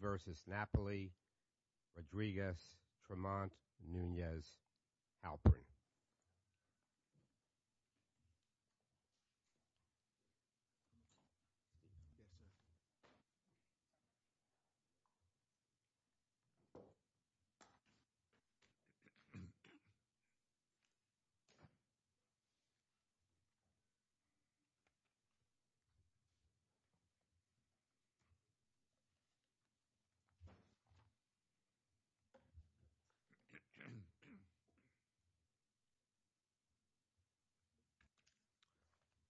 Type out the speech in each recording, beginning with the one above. versus Napoli, Rodriguez, Tremont, Nunez, Halperin.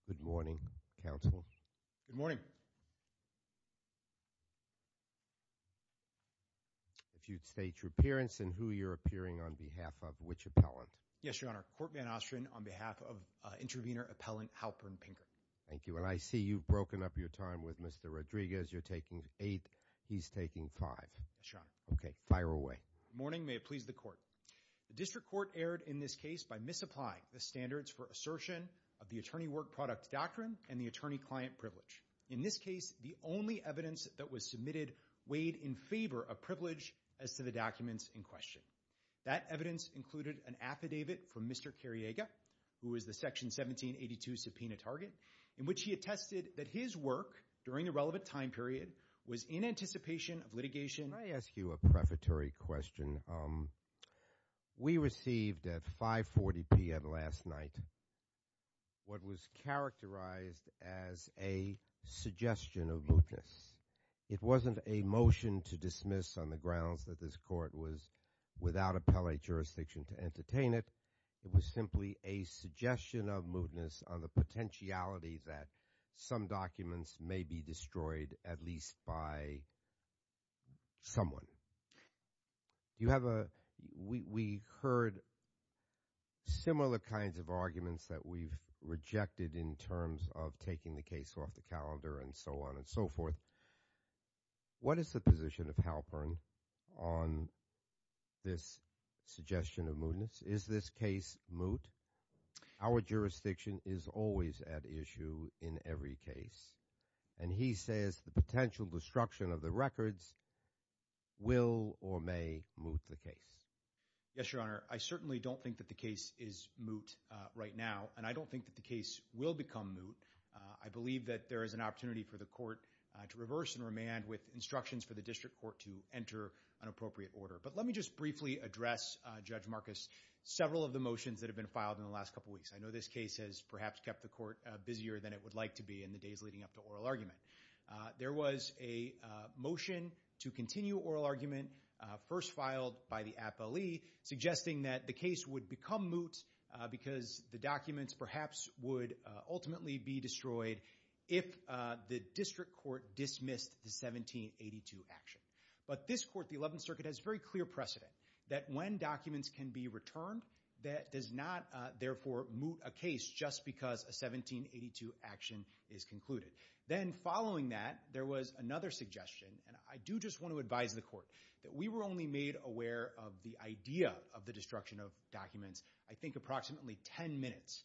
Good morning, counsel. Good morning. If you'd state your appearance and who you're appearing on behalf of, which appellant? Yes, Your Honor, Courtman Ostrin on behalf of intervener appellant Halperin Pinker. Thank you. Well, I see you've broken up your time with Mr. Rodriguez. You're taking eight. He's taking five. Yes, Your Honor. Okay, fire away. I have a prefatory question. We received at 5.40 p.m. last night what was characterized as a suggestion of mootness. It wasn't a motion to dismiss on the grounds that this court was without appellate jurisdiction to entertain it. It was simply a suggestion of mootness on the potentiality that some documents may be destroyed at least by someone. We heard similar kinds of arguments that we've rejected in terms of taking the case off the calendar and so on and so forth. What is the position of Halperin on this suggestion of mootness? Is this case moot? Our jurisdiction is always at issue in every case. Will or may moot the case? Yes, Your Honor. I certainly don't think that the case is moot right now, and I don't think that the case will become moot. I believe that there is an opportunity for the court to reverse and remand with instructions for the district court to enter an appropriate order. But let me just briefly address Judge Marcus several of the motions that have been filed in the last couple weeks. One, first filed by the appellee, suggesting that the case would become moot because the documents perhaps would ultimately be destroyed if the district court dismissed the 1782 action. But this court, the Eleventh Circuit, has very clear precedent that when documents can be returned that does not therefore moot a case just because a 1782 action is concluded. Then following that, there was another suggestion, and I do just want to advise the court, that we were only made aware of the idea of the destruction of documents I think approximately ten minutes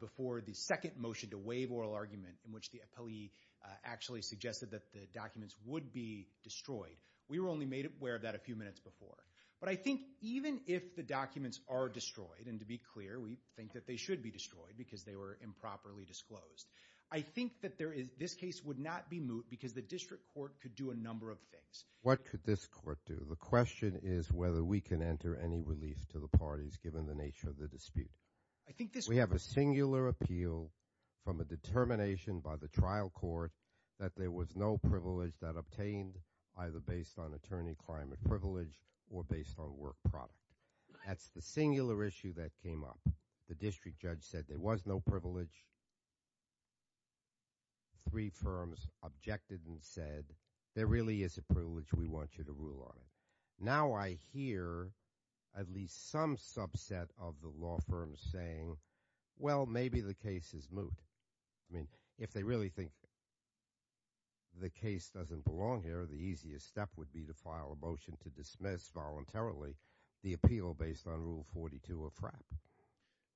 before the second motion to waive oral argument in which the appellee actually suggested that the documents would be destroyed. We were only made aware of that a few minutes before. But I think even if the documents are destroyed, and to be clear we think that they should be destroyed because they were improperly disclosed, I think that this case would not be moot because the district court could do a number of things. What could this court do? The question is whether we can enter any relief to the parties given the nature of the dispute. We have a singular appeal from a determination by the trial court that there was no privilege that obtained either based on attorney climate privilege or based on work product. That's the singular issue that came up. The district judge said there was no privilege. Three firms objected and said there really is a privilege. We want you to rule on it. Now I hear at least some subset of the law firms saying, well, maybe the case is moot. I mean, if they really think the case doesn't belong here, the easiest step would be to file a motion to dismiss voluntarily the appeal based on Rule 42 of FRAP.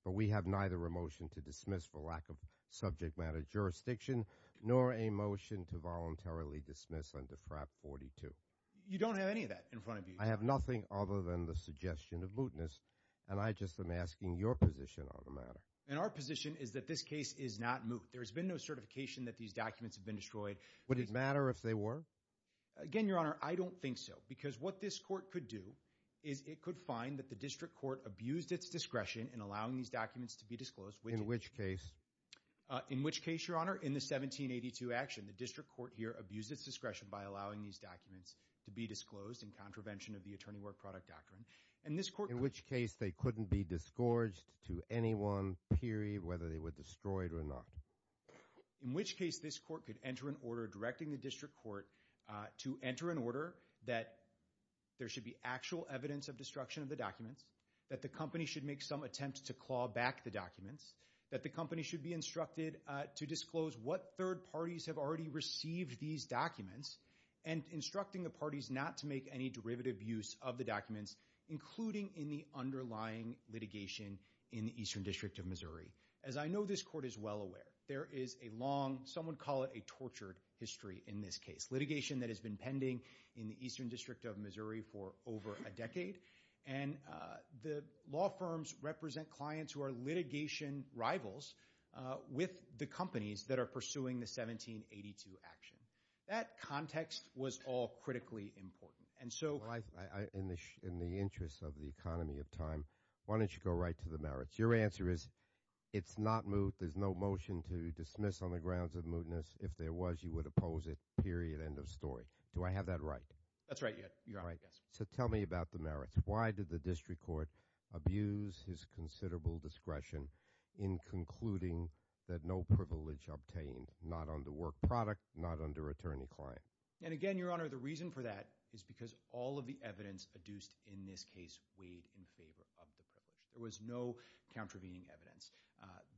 But we have neither a motion to dismiss for lack of subject matter jurisdiction nor a motion to voluntarily dismiss under FRAP 42. You don't have any of that in front of you. I have nothing other than the suggestion of mootness, and I just am asking your position on the matter. And our position is that this case is not moot. There has been no certification that these documents have been destroyed. Would it matter if they were? Again, Your Honor, I don't think so, because what this court could do is it could find that the district court abused its discretion in allowing these documents to be disclosed. In which case? In which case, Your Honor, in the 1782 action, the district court here abused its discretion by allowing these documents to be disclosed in contravention of the Attorney Work Product Doctrine. In which case they couldn't be disgorged to anyone, period, whether they were destroyed or not? In which case this court could enter an order directing the district court to enter an order that there should be actual evidence of destruction of the documents, that the company should make some attempt to claw back the documents, that the company should be instructed to disclose what third parties have already received these documents, and instructing the parties not to make any derivative use of the documents, including in the underlying litigation in the Eastern District of Missouri. As I know this court is well aware, there is a long, some would call it a tortured history in this case. Litigation that has been pending in the Eastern District of Missouri for over a decade. And the law firms represent clients who are litigation rivals with the companies that are pursuing the 1782 action. That context was all critically important. In the interest of the economy of time, why don't you go right to the merits? Your answer is it's not moot. There's no motion to dismiss on the grounds of mootness. If there was, you would oppose it, period, end of story. Do I have that right? That's right. So tell me about the merits. Why did the district court abuse his considerable discretion in concluding that no privilege obtained, not under work product, not under attorney-client? And again, Your Honor, the reason for that is because all of the evidence adduced in this case weighed in favor of the privilege. There was no contravening evidence.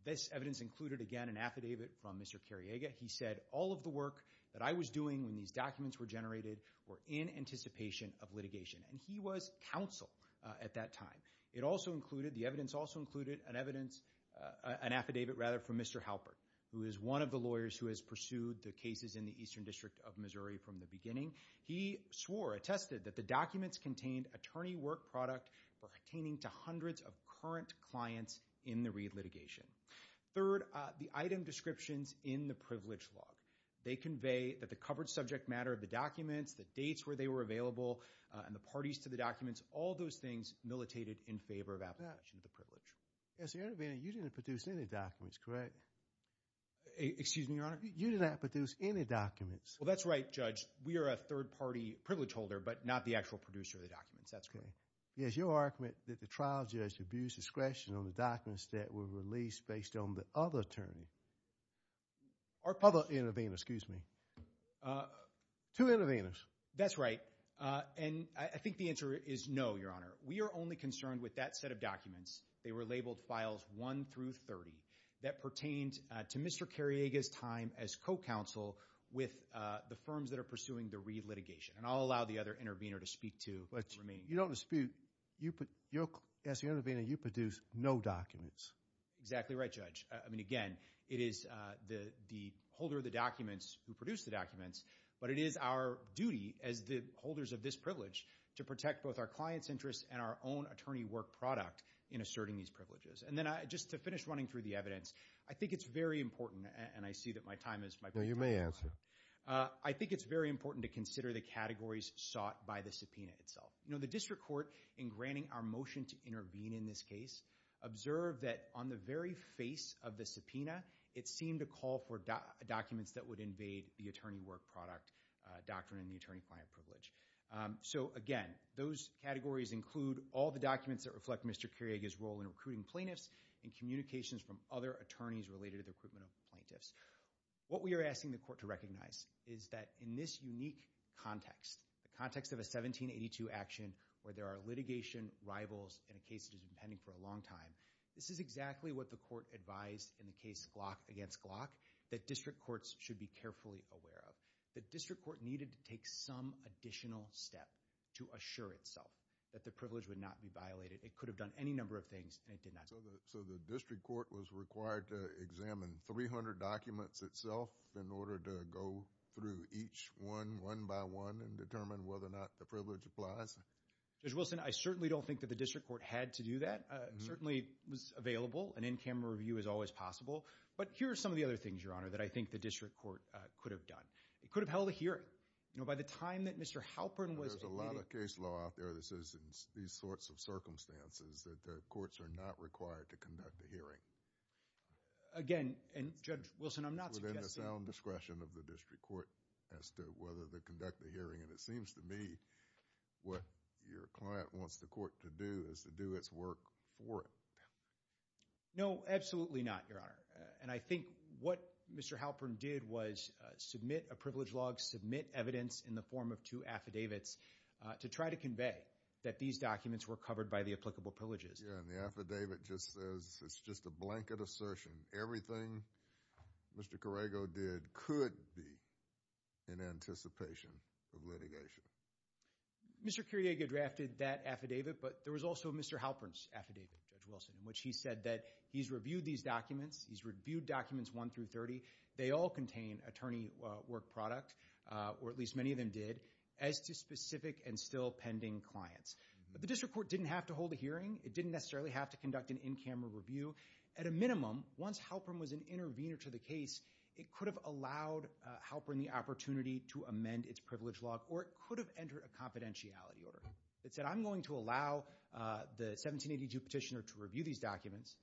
This evidence included, again, an affidavit from Mr. Kariega. He said all of the work that I was doing when these documents were generated were in anticipation of litigation. And he was counsel at that time. The evidence also included an affidavit from Mr. Halpert, who is one of the lawyers who has pursued the cases in the Eastern District of Missouri from the beginning. He swore, attested that the documents contained attorney work product pertaining to hundreds of current clients in the Reid litigation. Third, the item descriptions in the privilege log. They convey that the covered subject matter of the documents, the dates where they were available, and the parties to the documents, all those things militated in favor of application of the privilege. Yes, Your Honor, but you didn't produce any documents, correct? Excuse me, Your Honor? You did not produce any documents? Well, that's right, Judge. We are a third-party privilege holder, but not the actual producer of the documents. That's correct. Yes, your argument that the trial judge abused discretion on the documents that were released based on the other attorney. Other intervener, excuse me. Two interveners. That's right, and I think the answer is no, Your Honor. We are only concerned with that set of documents. They were labeled files 1 through 30 that pertained to Mr. Kariega's time as co-counsel with the firms that are pursuing the Reid litigation, and I'll allow the other intervener to speak to the remaining. You don't dispute. As the intervener, you produced no documents. Exactly right, Judge. I mean, again, it is the holder of the documents who produced the documents, but it is our duty as the holders of this privilege to protect both our clients' interests and our own attorney work product in asserting these privileges. And then just to finish running through the evidence, I think it's very important, and I see that my time is up. No, you may answer. I think it's very important to consider the categories sought by the subpoena itself. The district court, in granting our motion to intervene in this case, observed that on the very face of the subpoena, it seemed to call for documents that would invade the attorney work product doctrine and the attorney client privilege. So, again, those categories include all the documents that reflect Mr. Kariega's role in recruiting plaintiffs and communications from other attorneys related to the recruitment of plaintiffs. What we are asking the court to recognize is that in this unique context, the context of a 1782 action where there are litigation rivals in a case that has been pending for a long time, this is exactly what the court advised in the case Glock against Glock that district courts should be carefully aware of. The district court needed to take some additional step to assure itself that the privilege would not be violated. It could have done any number of things, and it did not. So the district court was required to examine 300 documents itself in order to go through each one, one by one, and determine whether or not the privilege applies? Judge Wilson, I certainly don't think that the district court had to do that. It certainly was available, and in-camera review is always possible. But here are some of the other things, Your Honor, that I think the district court could have done. It could have held a hearing. There's a lot of case law out there that says in these sorts of circumstances that courts are not required to conduct a hearing. Again, and Judge Wilson, I'm not suggesting— It's within the sound discretion of the district court as to whether to conduct a hearing, and it seems to me what your client wants the court to do is to do its work for it. No, absolutely not, Your Honor. And I think what Mr. Halpern did was submit a privilege log, submit evidence in the form of two affidavits to try to convey that these documents were covered by the applicable privileges. Yeah, and the affidavit just says it's just a blanket assertion. Everything Mr. Corrego did could be in anticipation of litigation. Mr. Kyriega drafted that affidavit, but there was also Mr. Halpern's affidavit, Judge Wilson, in which he said that he's reviewed these documents. He's reviewed documents 1 through 30. They all contain attorney work product, or at least many of them did, as to specific and still pending clients. But the district court didn't have to hold a hearing. It didn't necessarily have to conduct an in-camera review. At a minimum, once Halpern was an intervener to the case, it could have allowed Halpern the opportunity to amend its privilege log, or it could have entered a confidentiality order that said, I'm going to allow the 1782 petitioner to review these documents,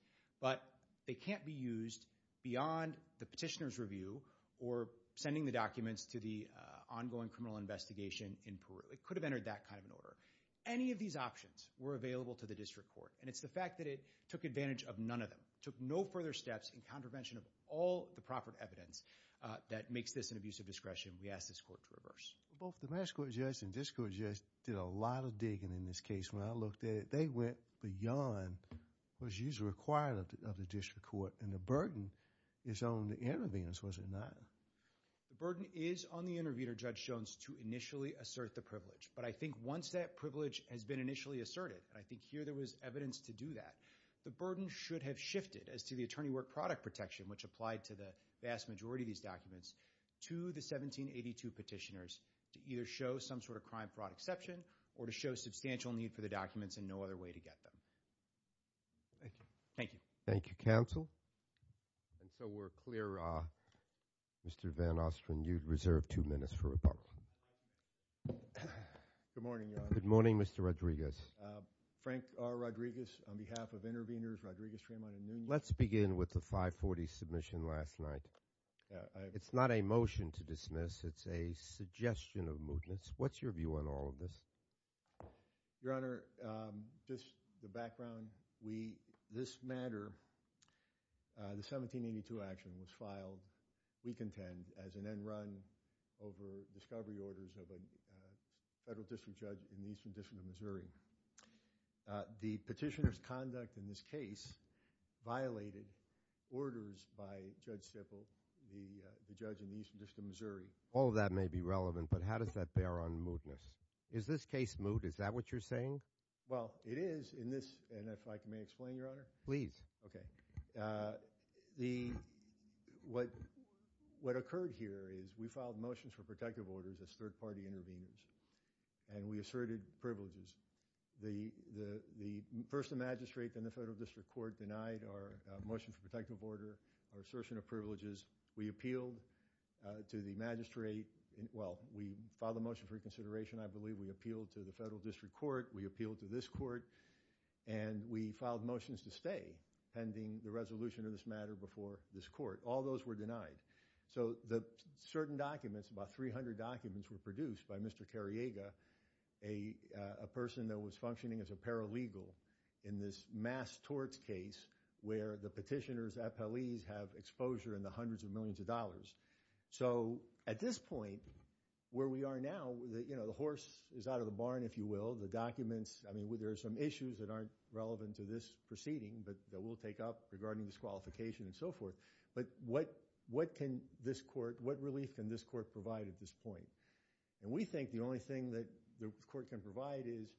but they can't be used beyond the petitioner's review or sending the documents to the ongoing criminal investigation in Peru. It could have entered that kind of an order. Any of these options were available to the district court, and it's the fact that it took advantage of none of them. It took no further steps in contravention of all the proper evidence that makes this an abuse of discretion. We ask this court to reverse. Both the mass court judge and district court judge did a lot of digging in this case. When I looked at it, they went beyond what is usually required of the district court, and the burden is on the interveners, was it not? The burden is on the intervener, Judge Jones, to initially assert the privilege. But I think once that privilege has been initially asserted, and I think here there was evidence to do that, the burden should have shifted as to the attorney work product protection, which applied to the vast majority of these documents, to the 1782 petitioners to either show some sort of crime fraud exception or to show substantial need for the documents and no other way to get them. Thank you. Thank you, counsel. And so we're clear, Mr. Van Ostrin, you'd reserve two minutes for rebuttal. Good morning, Your Honor. Good morning, Mr. Rodriguez. Frank R. Rodriguez on behalf of Interveners, Rodriguez, Tremont, and Noonan. Let's begin with the 540 submission last night. It's not a motion to dismiss. It's a suggestion of mootness. What's your view on all of this? Your Honor, just the background, this matter, the 1782 action was filed, we contend, as an end run over discovery orders of a federal district judge in the Eastern District of Missouri. The petitioner's conduct in this case violated orders by Judge Sippel, the judge in the Eastern District of Missouri. All of that may be relevant, but how does that bear on mootness? Is this case moot? Is that what you're saying? Well, it is in this, and if I may explain, Your Honor. Please. Okay. What occurred here is we filed motions for protective orders as third-party interveners, and we asserted privileges. The person magistrate in the federal district court denied our motion for protective order, our assertion of privileges. We appealed to the magistrate. Well, we filed a motion for reconsideration, I believe. We appealed to the federal district court. We appealed to this court, and we filed motions to stay pending the resolution of this matter before this court. All those were denied. So the certain documents, about 300 documents, were produced by Mr. Cariega, a person that was functioning as a paralegal in this mass torts case where the petitioners, FLEs, have exposure in the hundreds of millions of dollars. So at this point, where we are now, the horse is out of the barn, if you will. The documents, I mean, there are some issues that aren't relevant to this proceeding that we'll take up regarding disqualification and so forth. But what can this court, what relief can this court provide at this point? And we think the only thing that the court can provide is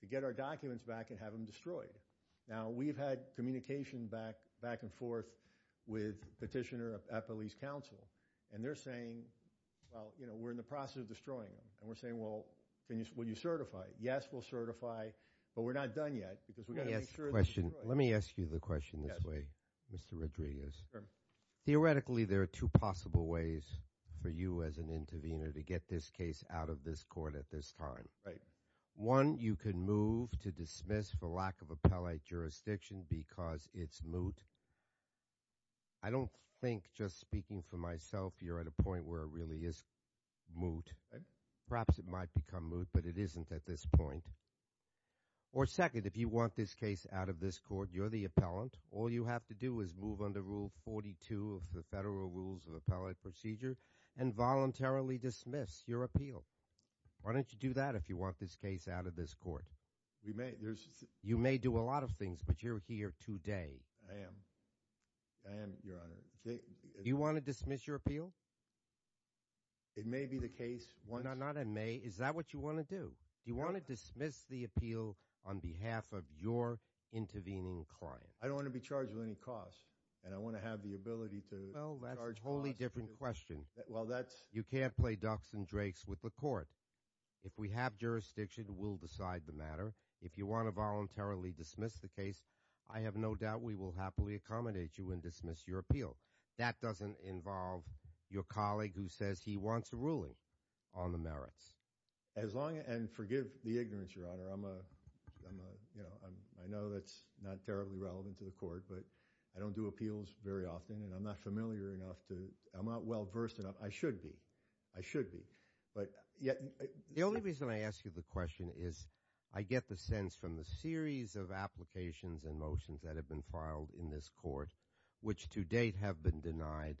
to get our documents back and have them destroyed. Now, we've had communication back and forth with petitioner at police counsel, and they're saying, well, you know, we're in the process of destroying them. And we're saying, well, will you certify? Yes, we'll certify, but we're not done yet because we've got to make sure they're destroyed. Let me ask you the question this way, Mr. Rodriguez. Theoretically, there are two possible ways for you as an intervener to get this case out of this court at this time. Right. One, you can move to dismiss for lack of appellate jurisdiction because it's moot. I don't think, just speaking for myself, you're at a point where it really is moot. Perhaps it might become moot, but it isn't at this point. Or second, if you want this case out of this court, you're the appellant. All you have to do is move under Rule 42 of the Federal Rules of Appellate Procedure and voluntarily dismiss your appeal. Why don't you do that if you want this case out of this court? We may. You may do a lot of things, but you're here today. I am. I am, Your Honor. Do you want to dismiss your appeal? It may be the case. No, not it may. Is that what you want to do? Do you want to dismiss the appeal on behalf of your intervening client? I don't want to be charged with any cost, and I want to have the ability to charge costs. Well, that's a totally different question. Well, that's You can't play ducks and drakes with the court. If we have jurisdiction, we'll decide the matter. If you want to voluntarily dismiss the case, I have no doubt we will happily accommodate you and dismiss your appeal. That doesn't involve your colleague who says he wants a ruling on the merits. And forgive the ignorance, Your Honor. I know that's not terribly relevant to the court, but I don't do appeals very often, and I'm not familiar enough to – I'm not well-versed enough. I should be. I should be. But yet The only reason I ask you the question is I get the sense from the series of applications and motions that have been filed in this court, which to date have been denied,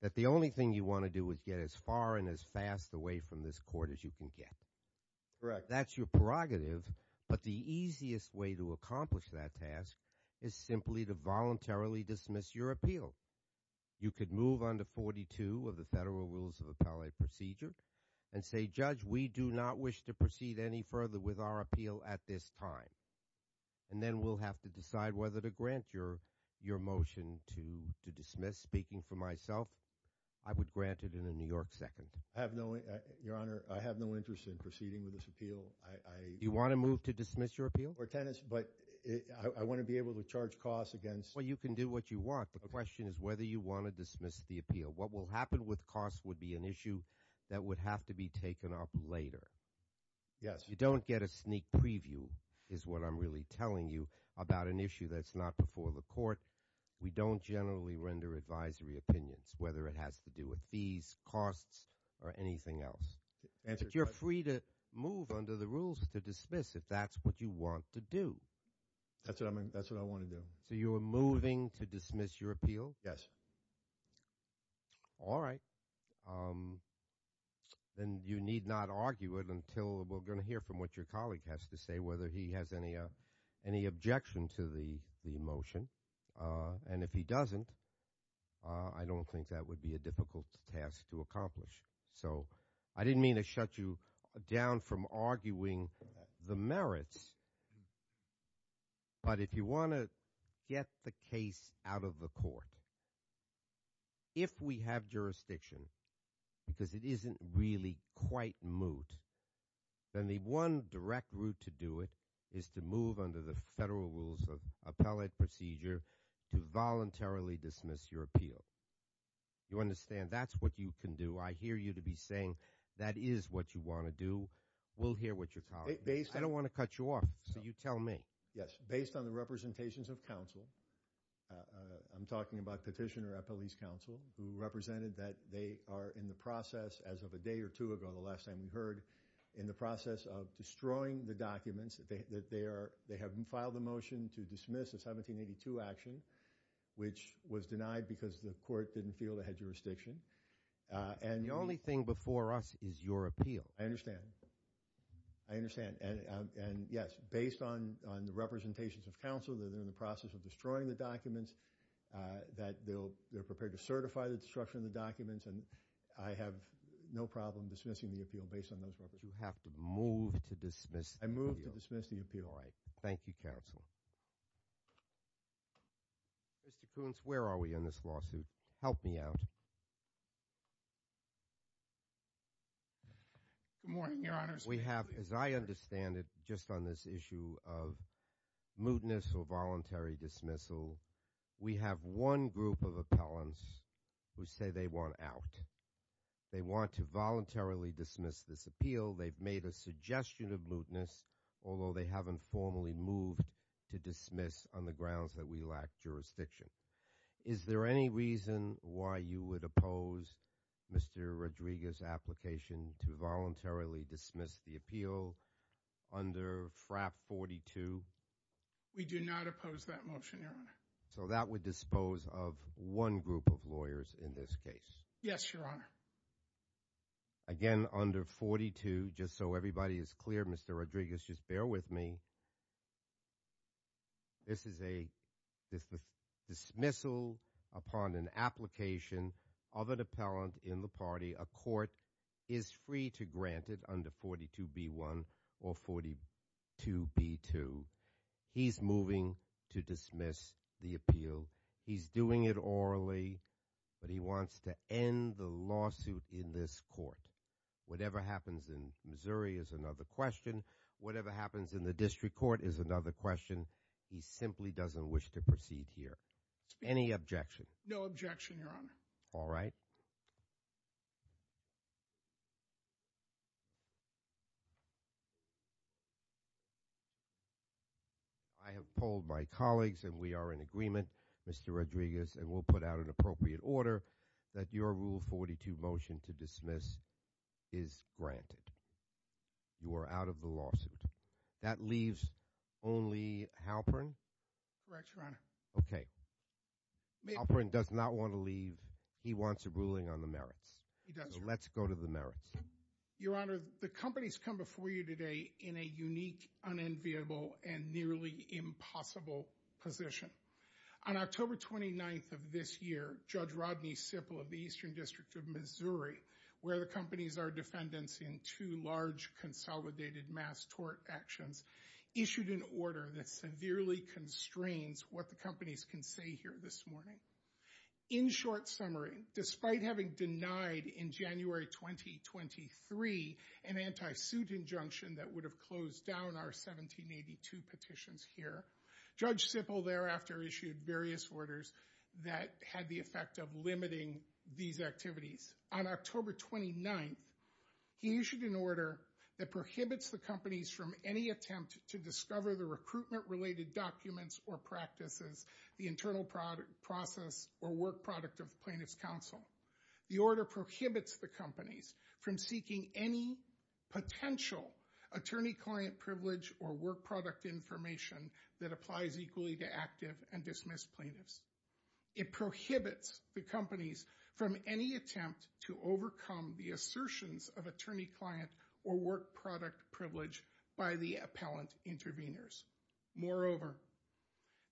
that the only thing you want to do is get as far and as fast away from this court as you can get. Correct. That's your prerogative, but the easiest way to accomplish that task is simply to voluntarily dismiss your appeal. You could move under 42 of the Federal Rules of Appellate Procedure and say, Judge, we do not wish to proceed any further with our appeal at this time. And then we'll have to decide whether to grant your motion to dismiss. Speaking for myself, I would grant it in a New York second. I have no – Your Honor, I have no interest in proceeding with this appeal. Do you want to move to dismiss your appeal? But I want to be able to charge costs against – Well, you can do what you want. The question is whether you want to dismiss the appeal. What will happen with costs would be an issue that would have to be taken up later. Yes. You don't get a sneak preview is what I'm really telling you about an issue that's not before the court. We don't generally render advisory opinions, whether it has to do with fees, costs, or anything else. But you're free to move under the rules to dismiss if that's what you want to do. That's what I want to do. So you are moving to dismiss your appeal? Yes. All right. Then you need not argue it until we're going to hear from what your colleague has to say, whether he has any objection to the motion. And if he doesn't, I don't think that would be a difficult task to accomplish. So I didn't mean to shut you down from arguing the merits. But if you want to get the case out of the court, if we have jurisdiction, because it isn't really quite moot, then the one direct route to do it is to move under the federal rules of appellate procedure to voluntarily dismiss your appeal. You understand that's what you can do. I hear you to be saying that is what you want to do. We'll hear what your colleague has to say. I don't want to cut you off, so you tell me. Yes. Based on the representations of counsel, I'm talking about petitioner at police counsel, who represented that they are in the process, as of a day or two ago, the last time we heard, in the process of destroying the documents, that they have filed a motion to dismiss a 1782 action, which was denied because the court didn't feel it had jurisdiction. The only thing before us is your appeal. I understand. I understand. And, yes, based on the representations of counsel, that they're in the process of destroying the documents, that they're prepared to certify the destruction of the documents, and I have no problem dismissing the appeal based on those representations. You have to move to dismiss the appeal. I move to dismiss the appeal. All right. Thank you, counsel. Mr. Kuntz, where are we on this lawsuit? Help me out. Good morning, Your Honors. We have, as I understand it, just on this issue of mootness or voluntary dismissal, we have one group of appellants who say they want out. They want to voluntarily dismiss this appeal. They've made a suggestion of mootness, although they haven't formally moved to dismiss on the grounds that we lack jurisdiction. Is there any reason why you would oppose Mr. Rodriguez's application to voluntarily dismiss the appeal under FRAP 42? We do not oppose that motion, Your Honor. So that would dispose of one group of lawyers in this case? Yes, Your Honor. Again, under 42, just so everybody is clear, Mr. Rodriguez, just bear with me. This is a dismissal upon an application of an appellant in the party. A court is free to grant it under 42B1 or 42B2. He's moving to dismiss the appeal. He's doing it orally, but he wants to end the lawsuit in this court. Whatever happens in Missouri is another question. Whatever happens in the district court is another question. He simply doesn't wish to proceed here. Any objection? No objection, Your Honor. All right. I have polled my colleagues, and we are in agreement, Mr. Rodriguez, and we'll put out an appropriate order that your Rule 42 motion to dismiss is granted. You are out of the lawsuit. That leaves only Halperin? Correct, Your Honor. Okay. Halperin does not want to leave. He wants a ruling on the merits. He does, Your Honor. So let's go to the merits. Your Honor, the company's come before you today in a unique, unenviable, and nearly impossible position. On October 29th of this year, Judge Rodney Sippel of the Eastern District of Missouri, where the company's our defendants in two large consolidated mass tort actions, issued an order that severely constrains what the company's can say here this morning. In short summary, despite having denied in January 2023 an anti-suit injunction that would have closed down our 1782 petitions here, Judge Sippel thereafter issued various orders that had the effect of limiting these activities. On October 29th, he issued an order that prohibits the companies from any attempt to discover the recruitment-related documents or practices, the internal process, or work product of plaintiff's counsel. The order prohibits the companies from seeking any potential attorney-client privilege or work product information that applies equally to active and dismissed plaintiffs. It prohibits the companies from any attempt to overcome the assertions of attorney-client or work product privilege by the appellant intervenors. Moreover,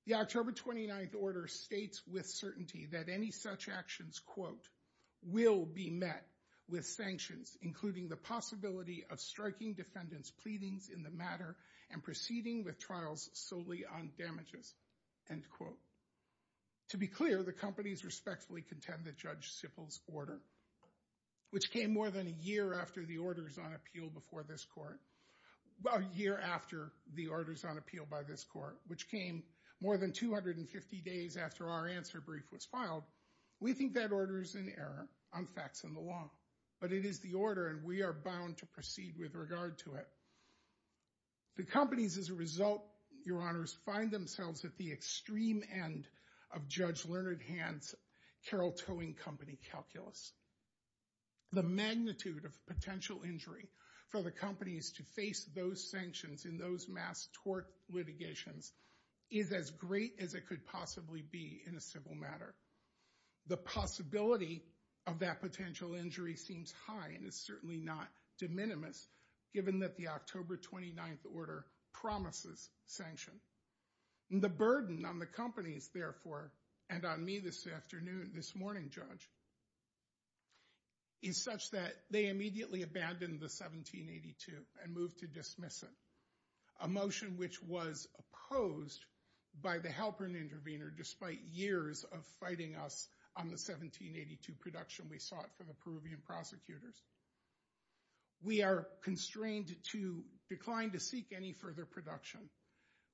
the October 29th order states with certainty that any such actions, quote, will be met with sanctions, including the possibility of striking defendants' pleadings in the matter and proceeding with trials solely on damages, end quote. To be clear, the companies respectfully contend that Judge Sippel's order, which came more than a year after the orders on appeal by this court, which came more than 250 days after our answer brief was filed, we think that order is in error on facts and the law, but it is the order and we are bound to proceed with regard to it. The companies, as a result, your honors, find themselves at the extreme end of Judge Leonard Hand's carrel-towing company calculus. The magnitude of potential injury for the companies to face those sanctions in those mass tort litigations is as great as it could possibly be in a civil matter. The possibility of that potential injury seems high and is certainly not de minimis given that the October 29th order promises sanction. The burden on the companies, therefore, and on me this morning, Judge, is such that they immediately abandoned the 1782 and moved to dismiss it, a motion which was opposed by the helper and intervener despite years of fighting us on the 1782 production we sought for the Peruvian prosecutors. We are constrained to decline to seek any further production.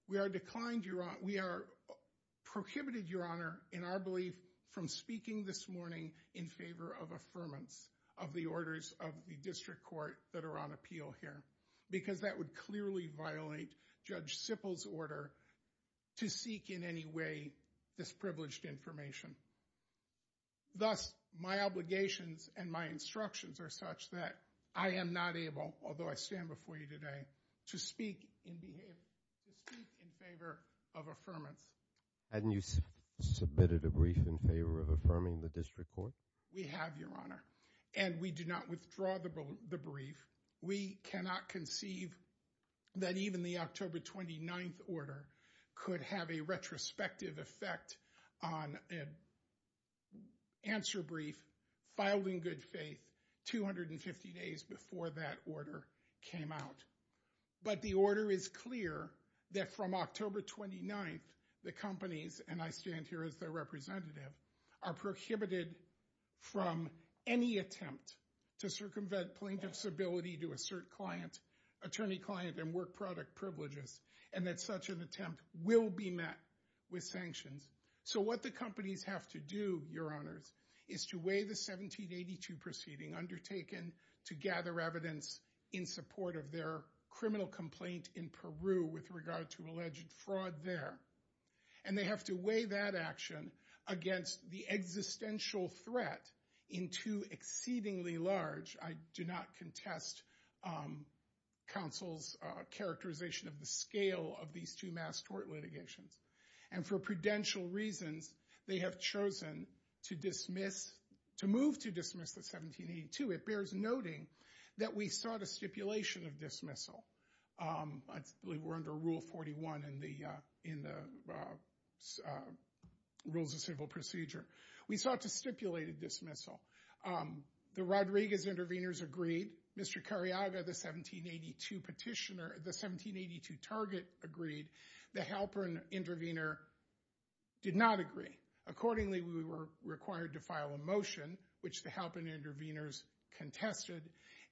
We are declined, we are prohibited, your honor, in our belief from speaking this morning in favor of affirmance of the orders of the district court that are on appeal here because that would clearly violate Judge Sippel's order to seek in any way this privileged information. Thus, my obligations and my instructions are such that I am not able, although I stand before you today, to speak in favor of affirmance. Hadn't you submitted a brief in favor of affirming the district court? We have, your honor, and we do not withdraw the brief. We cannot conceive that even the October 29th order could have a retrospective effect on an answer brief filed in good faith 250 days before that order came out. But the order is clear that from October 29th, the companies, and I stand here as their representative, are prohibited from any attempt to circumvent plaintiff's ability to assert attorney-client and work-product privileges and that such an attempt will be met with sanctions. So what the companies have to do, your honors, is to weigh the 1782 proceeding undertaken to gather evidence in support of their criminal complaint in Peru with regard to alleged fraud there. And they have to weigh that action against the existential threat in two exceedingly large, I do not contest counsel's characterization of the scale of these two mass court litigations. And for prudential reasons, they have chosen to move to dismiss the 1782. It bears noting that we sought a stipulation of dismissal. I believe we're under Rule 41 in the Rules of Civil Procedure. We sought to stipulate a dismissal. The Rodriguez intervenors agreed. Mr. Cariaga, the 1782 petitioner, the 1782 target, agreed. The Halpern intervenor did not agree. Accordingly, we were required to file a motion, which the Halpern intervenors contested.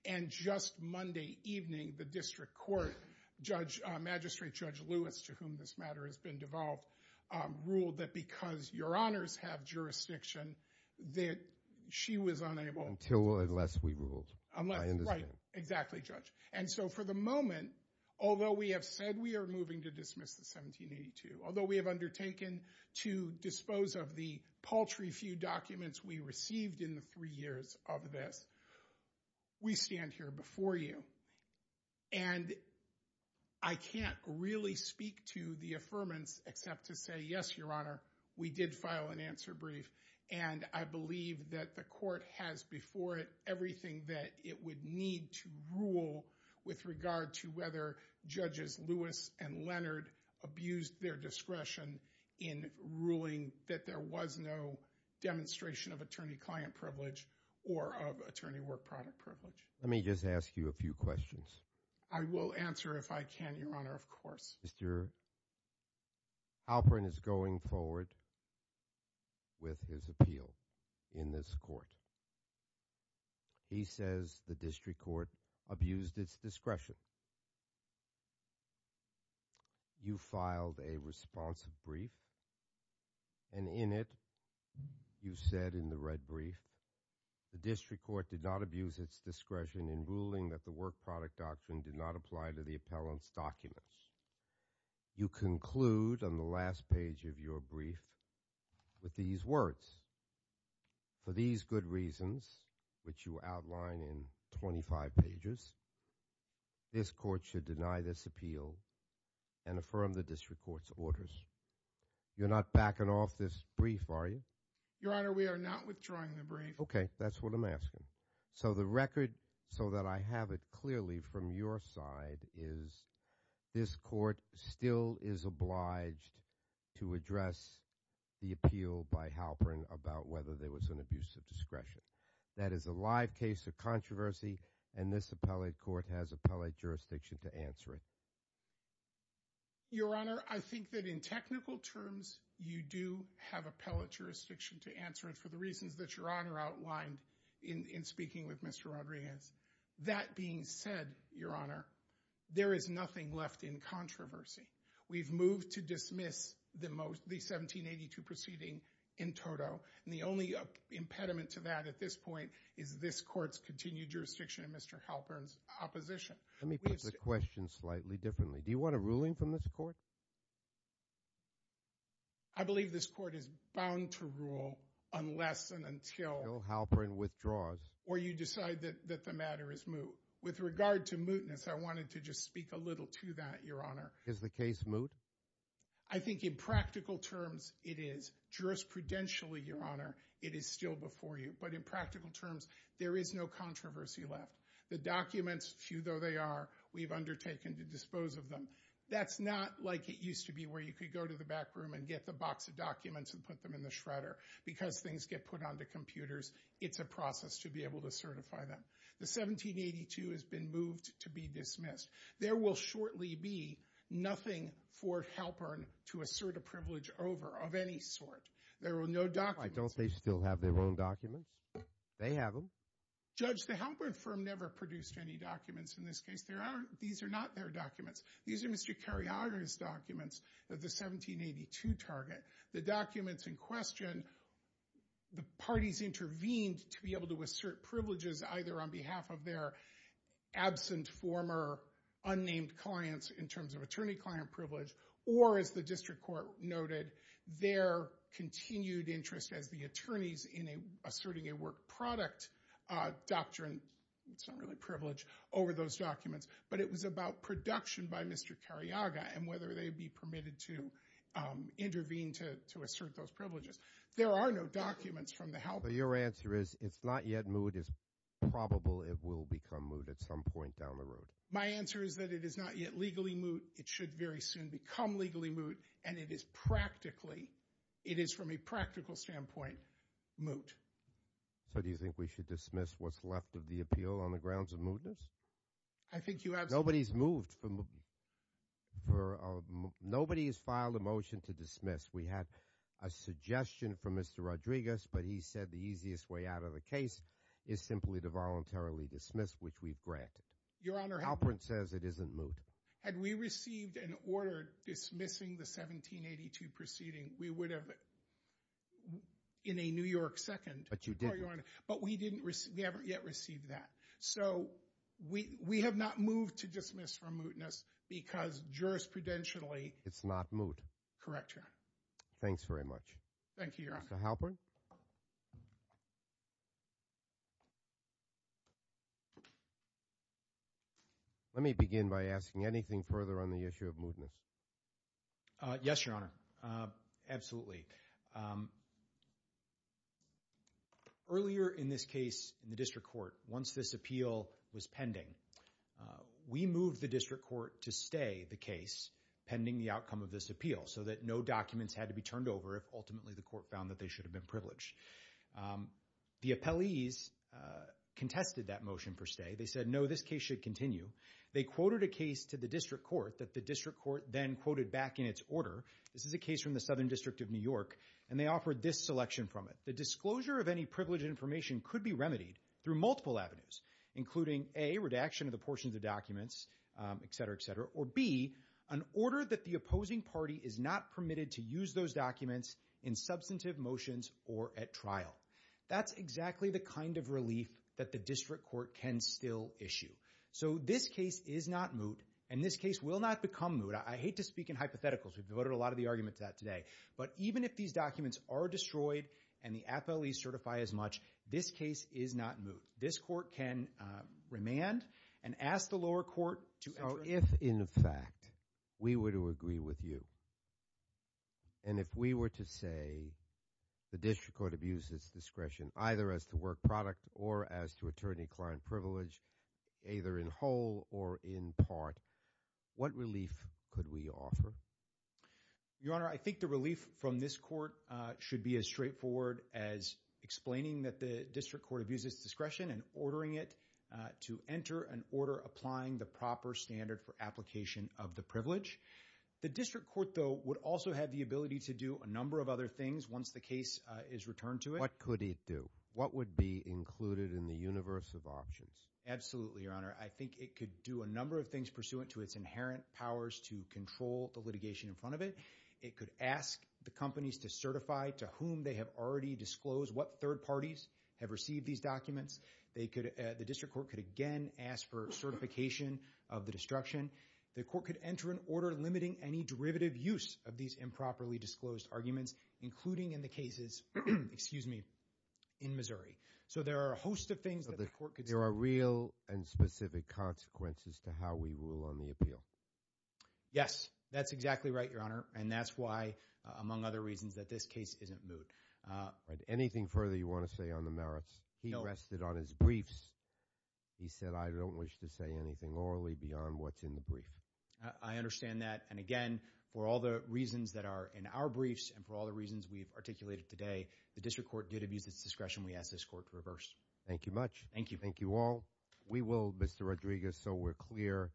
And just Monday evening, the district court magistrate, Judge Lewis, to whom this matter has been devolved, ruled that because your honors have jurisdiction that she was unable to- Until or unless we ruled. Right, exactly, Judge. And so for the moment, although we have said we are moving to dismiss the 1782, although we have undertaken to dispose of the paltry few documents we received in the three years of this, we stand here before you. And I can't really speak to the affirmance except to say, yes, your honor, we did file an answer brief. And I believe that the court has before it everything that it would need to rule with regard to whether Judges Lewis and Leonard abused their discretion in ruling that there was no demonstration of attorney-client privilege or of attorney-work-product privilege. Let me just ask you a few questions. I will answer if I can, your honor, of course. Mr. Halperin is going forward with his appeal in this court. He says the district court abused its discretion. You filed a response brief, and in it you said in the red brief, the district court did not abuse its discretion in ruling that the work-product doctrine did not apply to the appellant's documents. You conclude on the last page of your brief with these words, for these good reasons, which you outline in 25 pages, this court should deny this appeal and affirm the district court's orders. You're not backing off this brief, are you? Your honor, we are not withdrawing the brief. Okay, that's what I'm asking. So the record, so that I have it clearly from your side, is this court still is obliged to address the appeal by Halperin about whether there was an abuse of discretion. That is a live case of controversy, and this appellate court has appellate jurisdiction to answer it. Your honor, I think that in technical terms, you do have appellate jurisdiction to answer it for the reasons that your honor outlined in speaking with Mr. Rodriguez. That being said, your honor, there is nothing left in controversy. We've moved to dismiss the 1782 proceeding in toto, and the only impediment to that at this point is this court's continued jurisdiction in Mr. Halperin's opposition. Let me put the question slightly differently. Do you want a ruling from this court? I believe this court is bound to rule unless and until Halperin withdraws, or you decide that the matter is moot. With regard to mootness, I wanted to just speak a little to that, your honor. Is the case moot? I think in practical terms, it is. Jurisprudentially, your honor, it is still before you. But in practical terms, there is no controversy left. The documents, few though they are, we've undertaken to dispose of them. That's not like it used to be where you could go to the back room and get the box of documents and put them in the shredder. Because things get put onto computers, it's a process to be able to certify them. The 1782 has been moved to be dismissed. There will shortly be nothing for Halperin to assert a privilege over of any sort. There are no documents. Don't they still have their own documents? They have them. Judge, the Halperin firm never produced any documents in this case. These are not their documents. These are Mr. Cariaga's documents of the 1782 target. The documents in question, the parties intervened to be able to assert privileges either on behalf of their absent former unnamed clients in terms of attorney-client privilege, or as the district court noted, their continued interest as the attorneys in asserting a work product doctrine. It's not really privilege over those documents. But it was about production by Mr. Cariaga and whether they'd be permitted to intervene to assert those privileges. There are no documents from the Halperin. Your answer is it's not yet moot. It's probable it will become moot at some point down the road. My answer is that it is not yet legally moot. It should very soon become legally moot. And it is practically, it is from a practical standpoint, moot. So do you think we should dismiss what's left of the appeal on the grounds of mootness? I think you have to. Nobody's moved for mootness. Nobody has filed a motion to dismiss. We had a suggestion from Mr. Rodriguez, but he said the easiest way out of the case is simply to voluntarily dismiss, which we've granted. Your Honor. Halperin says it isn't moot. Had we received an order dismissing the 1782 proceeding, we would have in a New York second. But you didn't. But we haven't yet received that. So we have not moved to dismiss for mootness because jurisprudentially it's not moot. Correct, Your Honor. Thanks very much. Thank you, Your Honor. Mr. Halperin. Let me begin by asking anything further on the issue of mootness. Yes, Your Honor. Absolutely. Earlier in this case in the district court, once this appeal was pending, we moved the district court to stay the case pending the outcome of this appeal so that no documents had to be turned over if ultimately the court found that they should have been privileged. The appellees contested that motion for stay. They said, no, this case should continue. They quoted a case to the district court that the district court then quoted back in its order. This is a case from the Southern District of New York, and they offered this selection from it. The disclosure of any privileged information could be remedied through multiple avenues, including, A, redaction of the portions of documents, et cetera, et cetera, or, B, an order that the opposing party is not permitted to use those documents in substantive motions or at trial. That's exactly the kind of relief that the district court can still issue. So this case is not moot, and this case will not become moot. I hate to speak in hypotheticals. We've devoted a lot of the argument to that today. But even if these documents are destroyed and the appellees certify as much, this case is not moot. This court can remand and ask the lower court to... So if, in fact, we were to agree with you, and if we were to say the district court abuses discretion either as to work product or as to attorney-client privilege, either in whole or in part, what relief could we offer? Your Honor, I think the relief from this court should be as straightforward as explaining that the district court abuses discretion and ordering it to enter an order applying the proper standard for application of the privilege. The district court, though, would also have the ability to do a number of other things once the case is returned to it. What could it do? What would be included in the universe of options? Absolutely, Your Honor. I think it could do a number of things pursuant to its inherent powers to control the litigation in front of it. It could ask the companies to certify to whom they have already disclosed what third parties have received these documents. The district court could again ask for certification of the destruction. The court could enter an order limiting any derivative use of these improperly disclosed arguments, including in the cases, excuse me, in Missouri. So there are a host of things that the court could say. There are real and specific consequences to how we rule on the appeal. Yes, that's exactly right, Your Honor, and that's why, among other reasons, that this case isn't moved. Anything further you want to say on the merits? No. He rested on his briefs. He said, I don't wish to say anything orally beyond what's in the brief. I understand that. And again, for all the reasons that are in our briefs and for all the reasons we've articulated today, the district court did abuse its discretion. We ask this court to reverse. Thank you much. Thank you. Thank you all. We will, Mr. Rodriguez, so we're clear,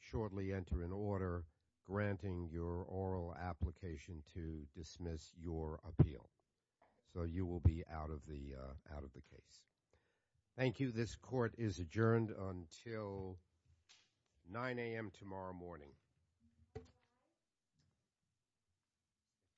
shortly enter an order granting your oral application to dismiss your appeal. So you will be out of the case. Thank you. This court is adjourned until 9 AM tomorrow morning.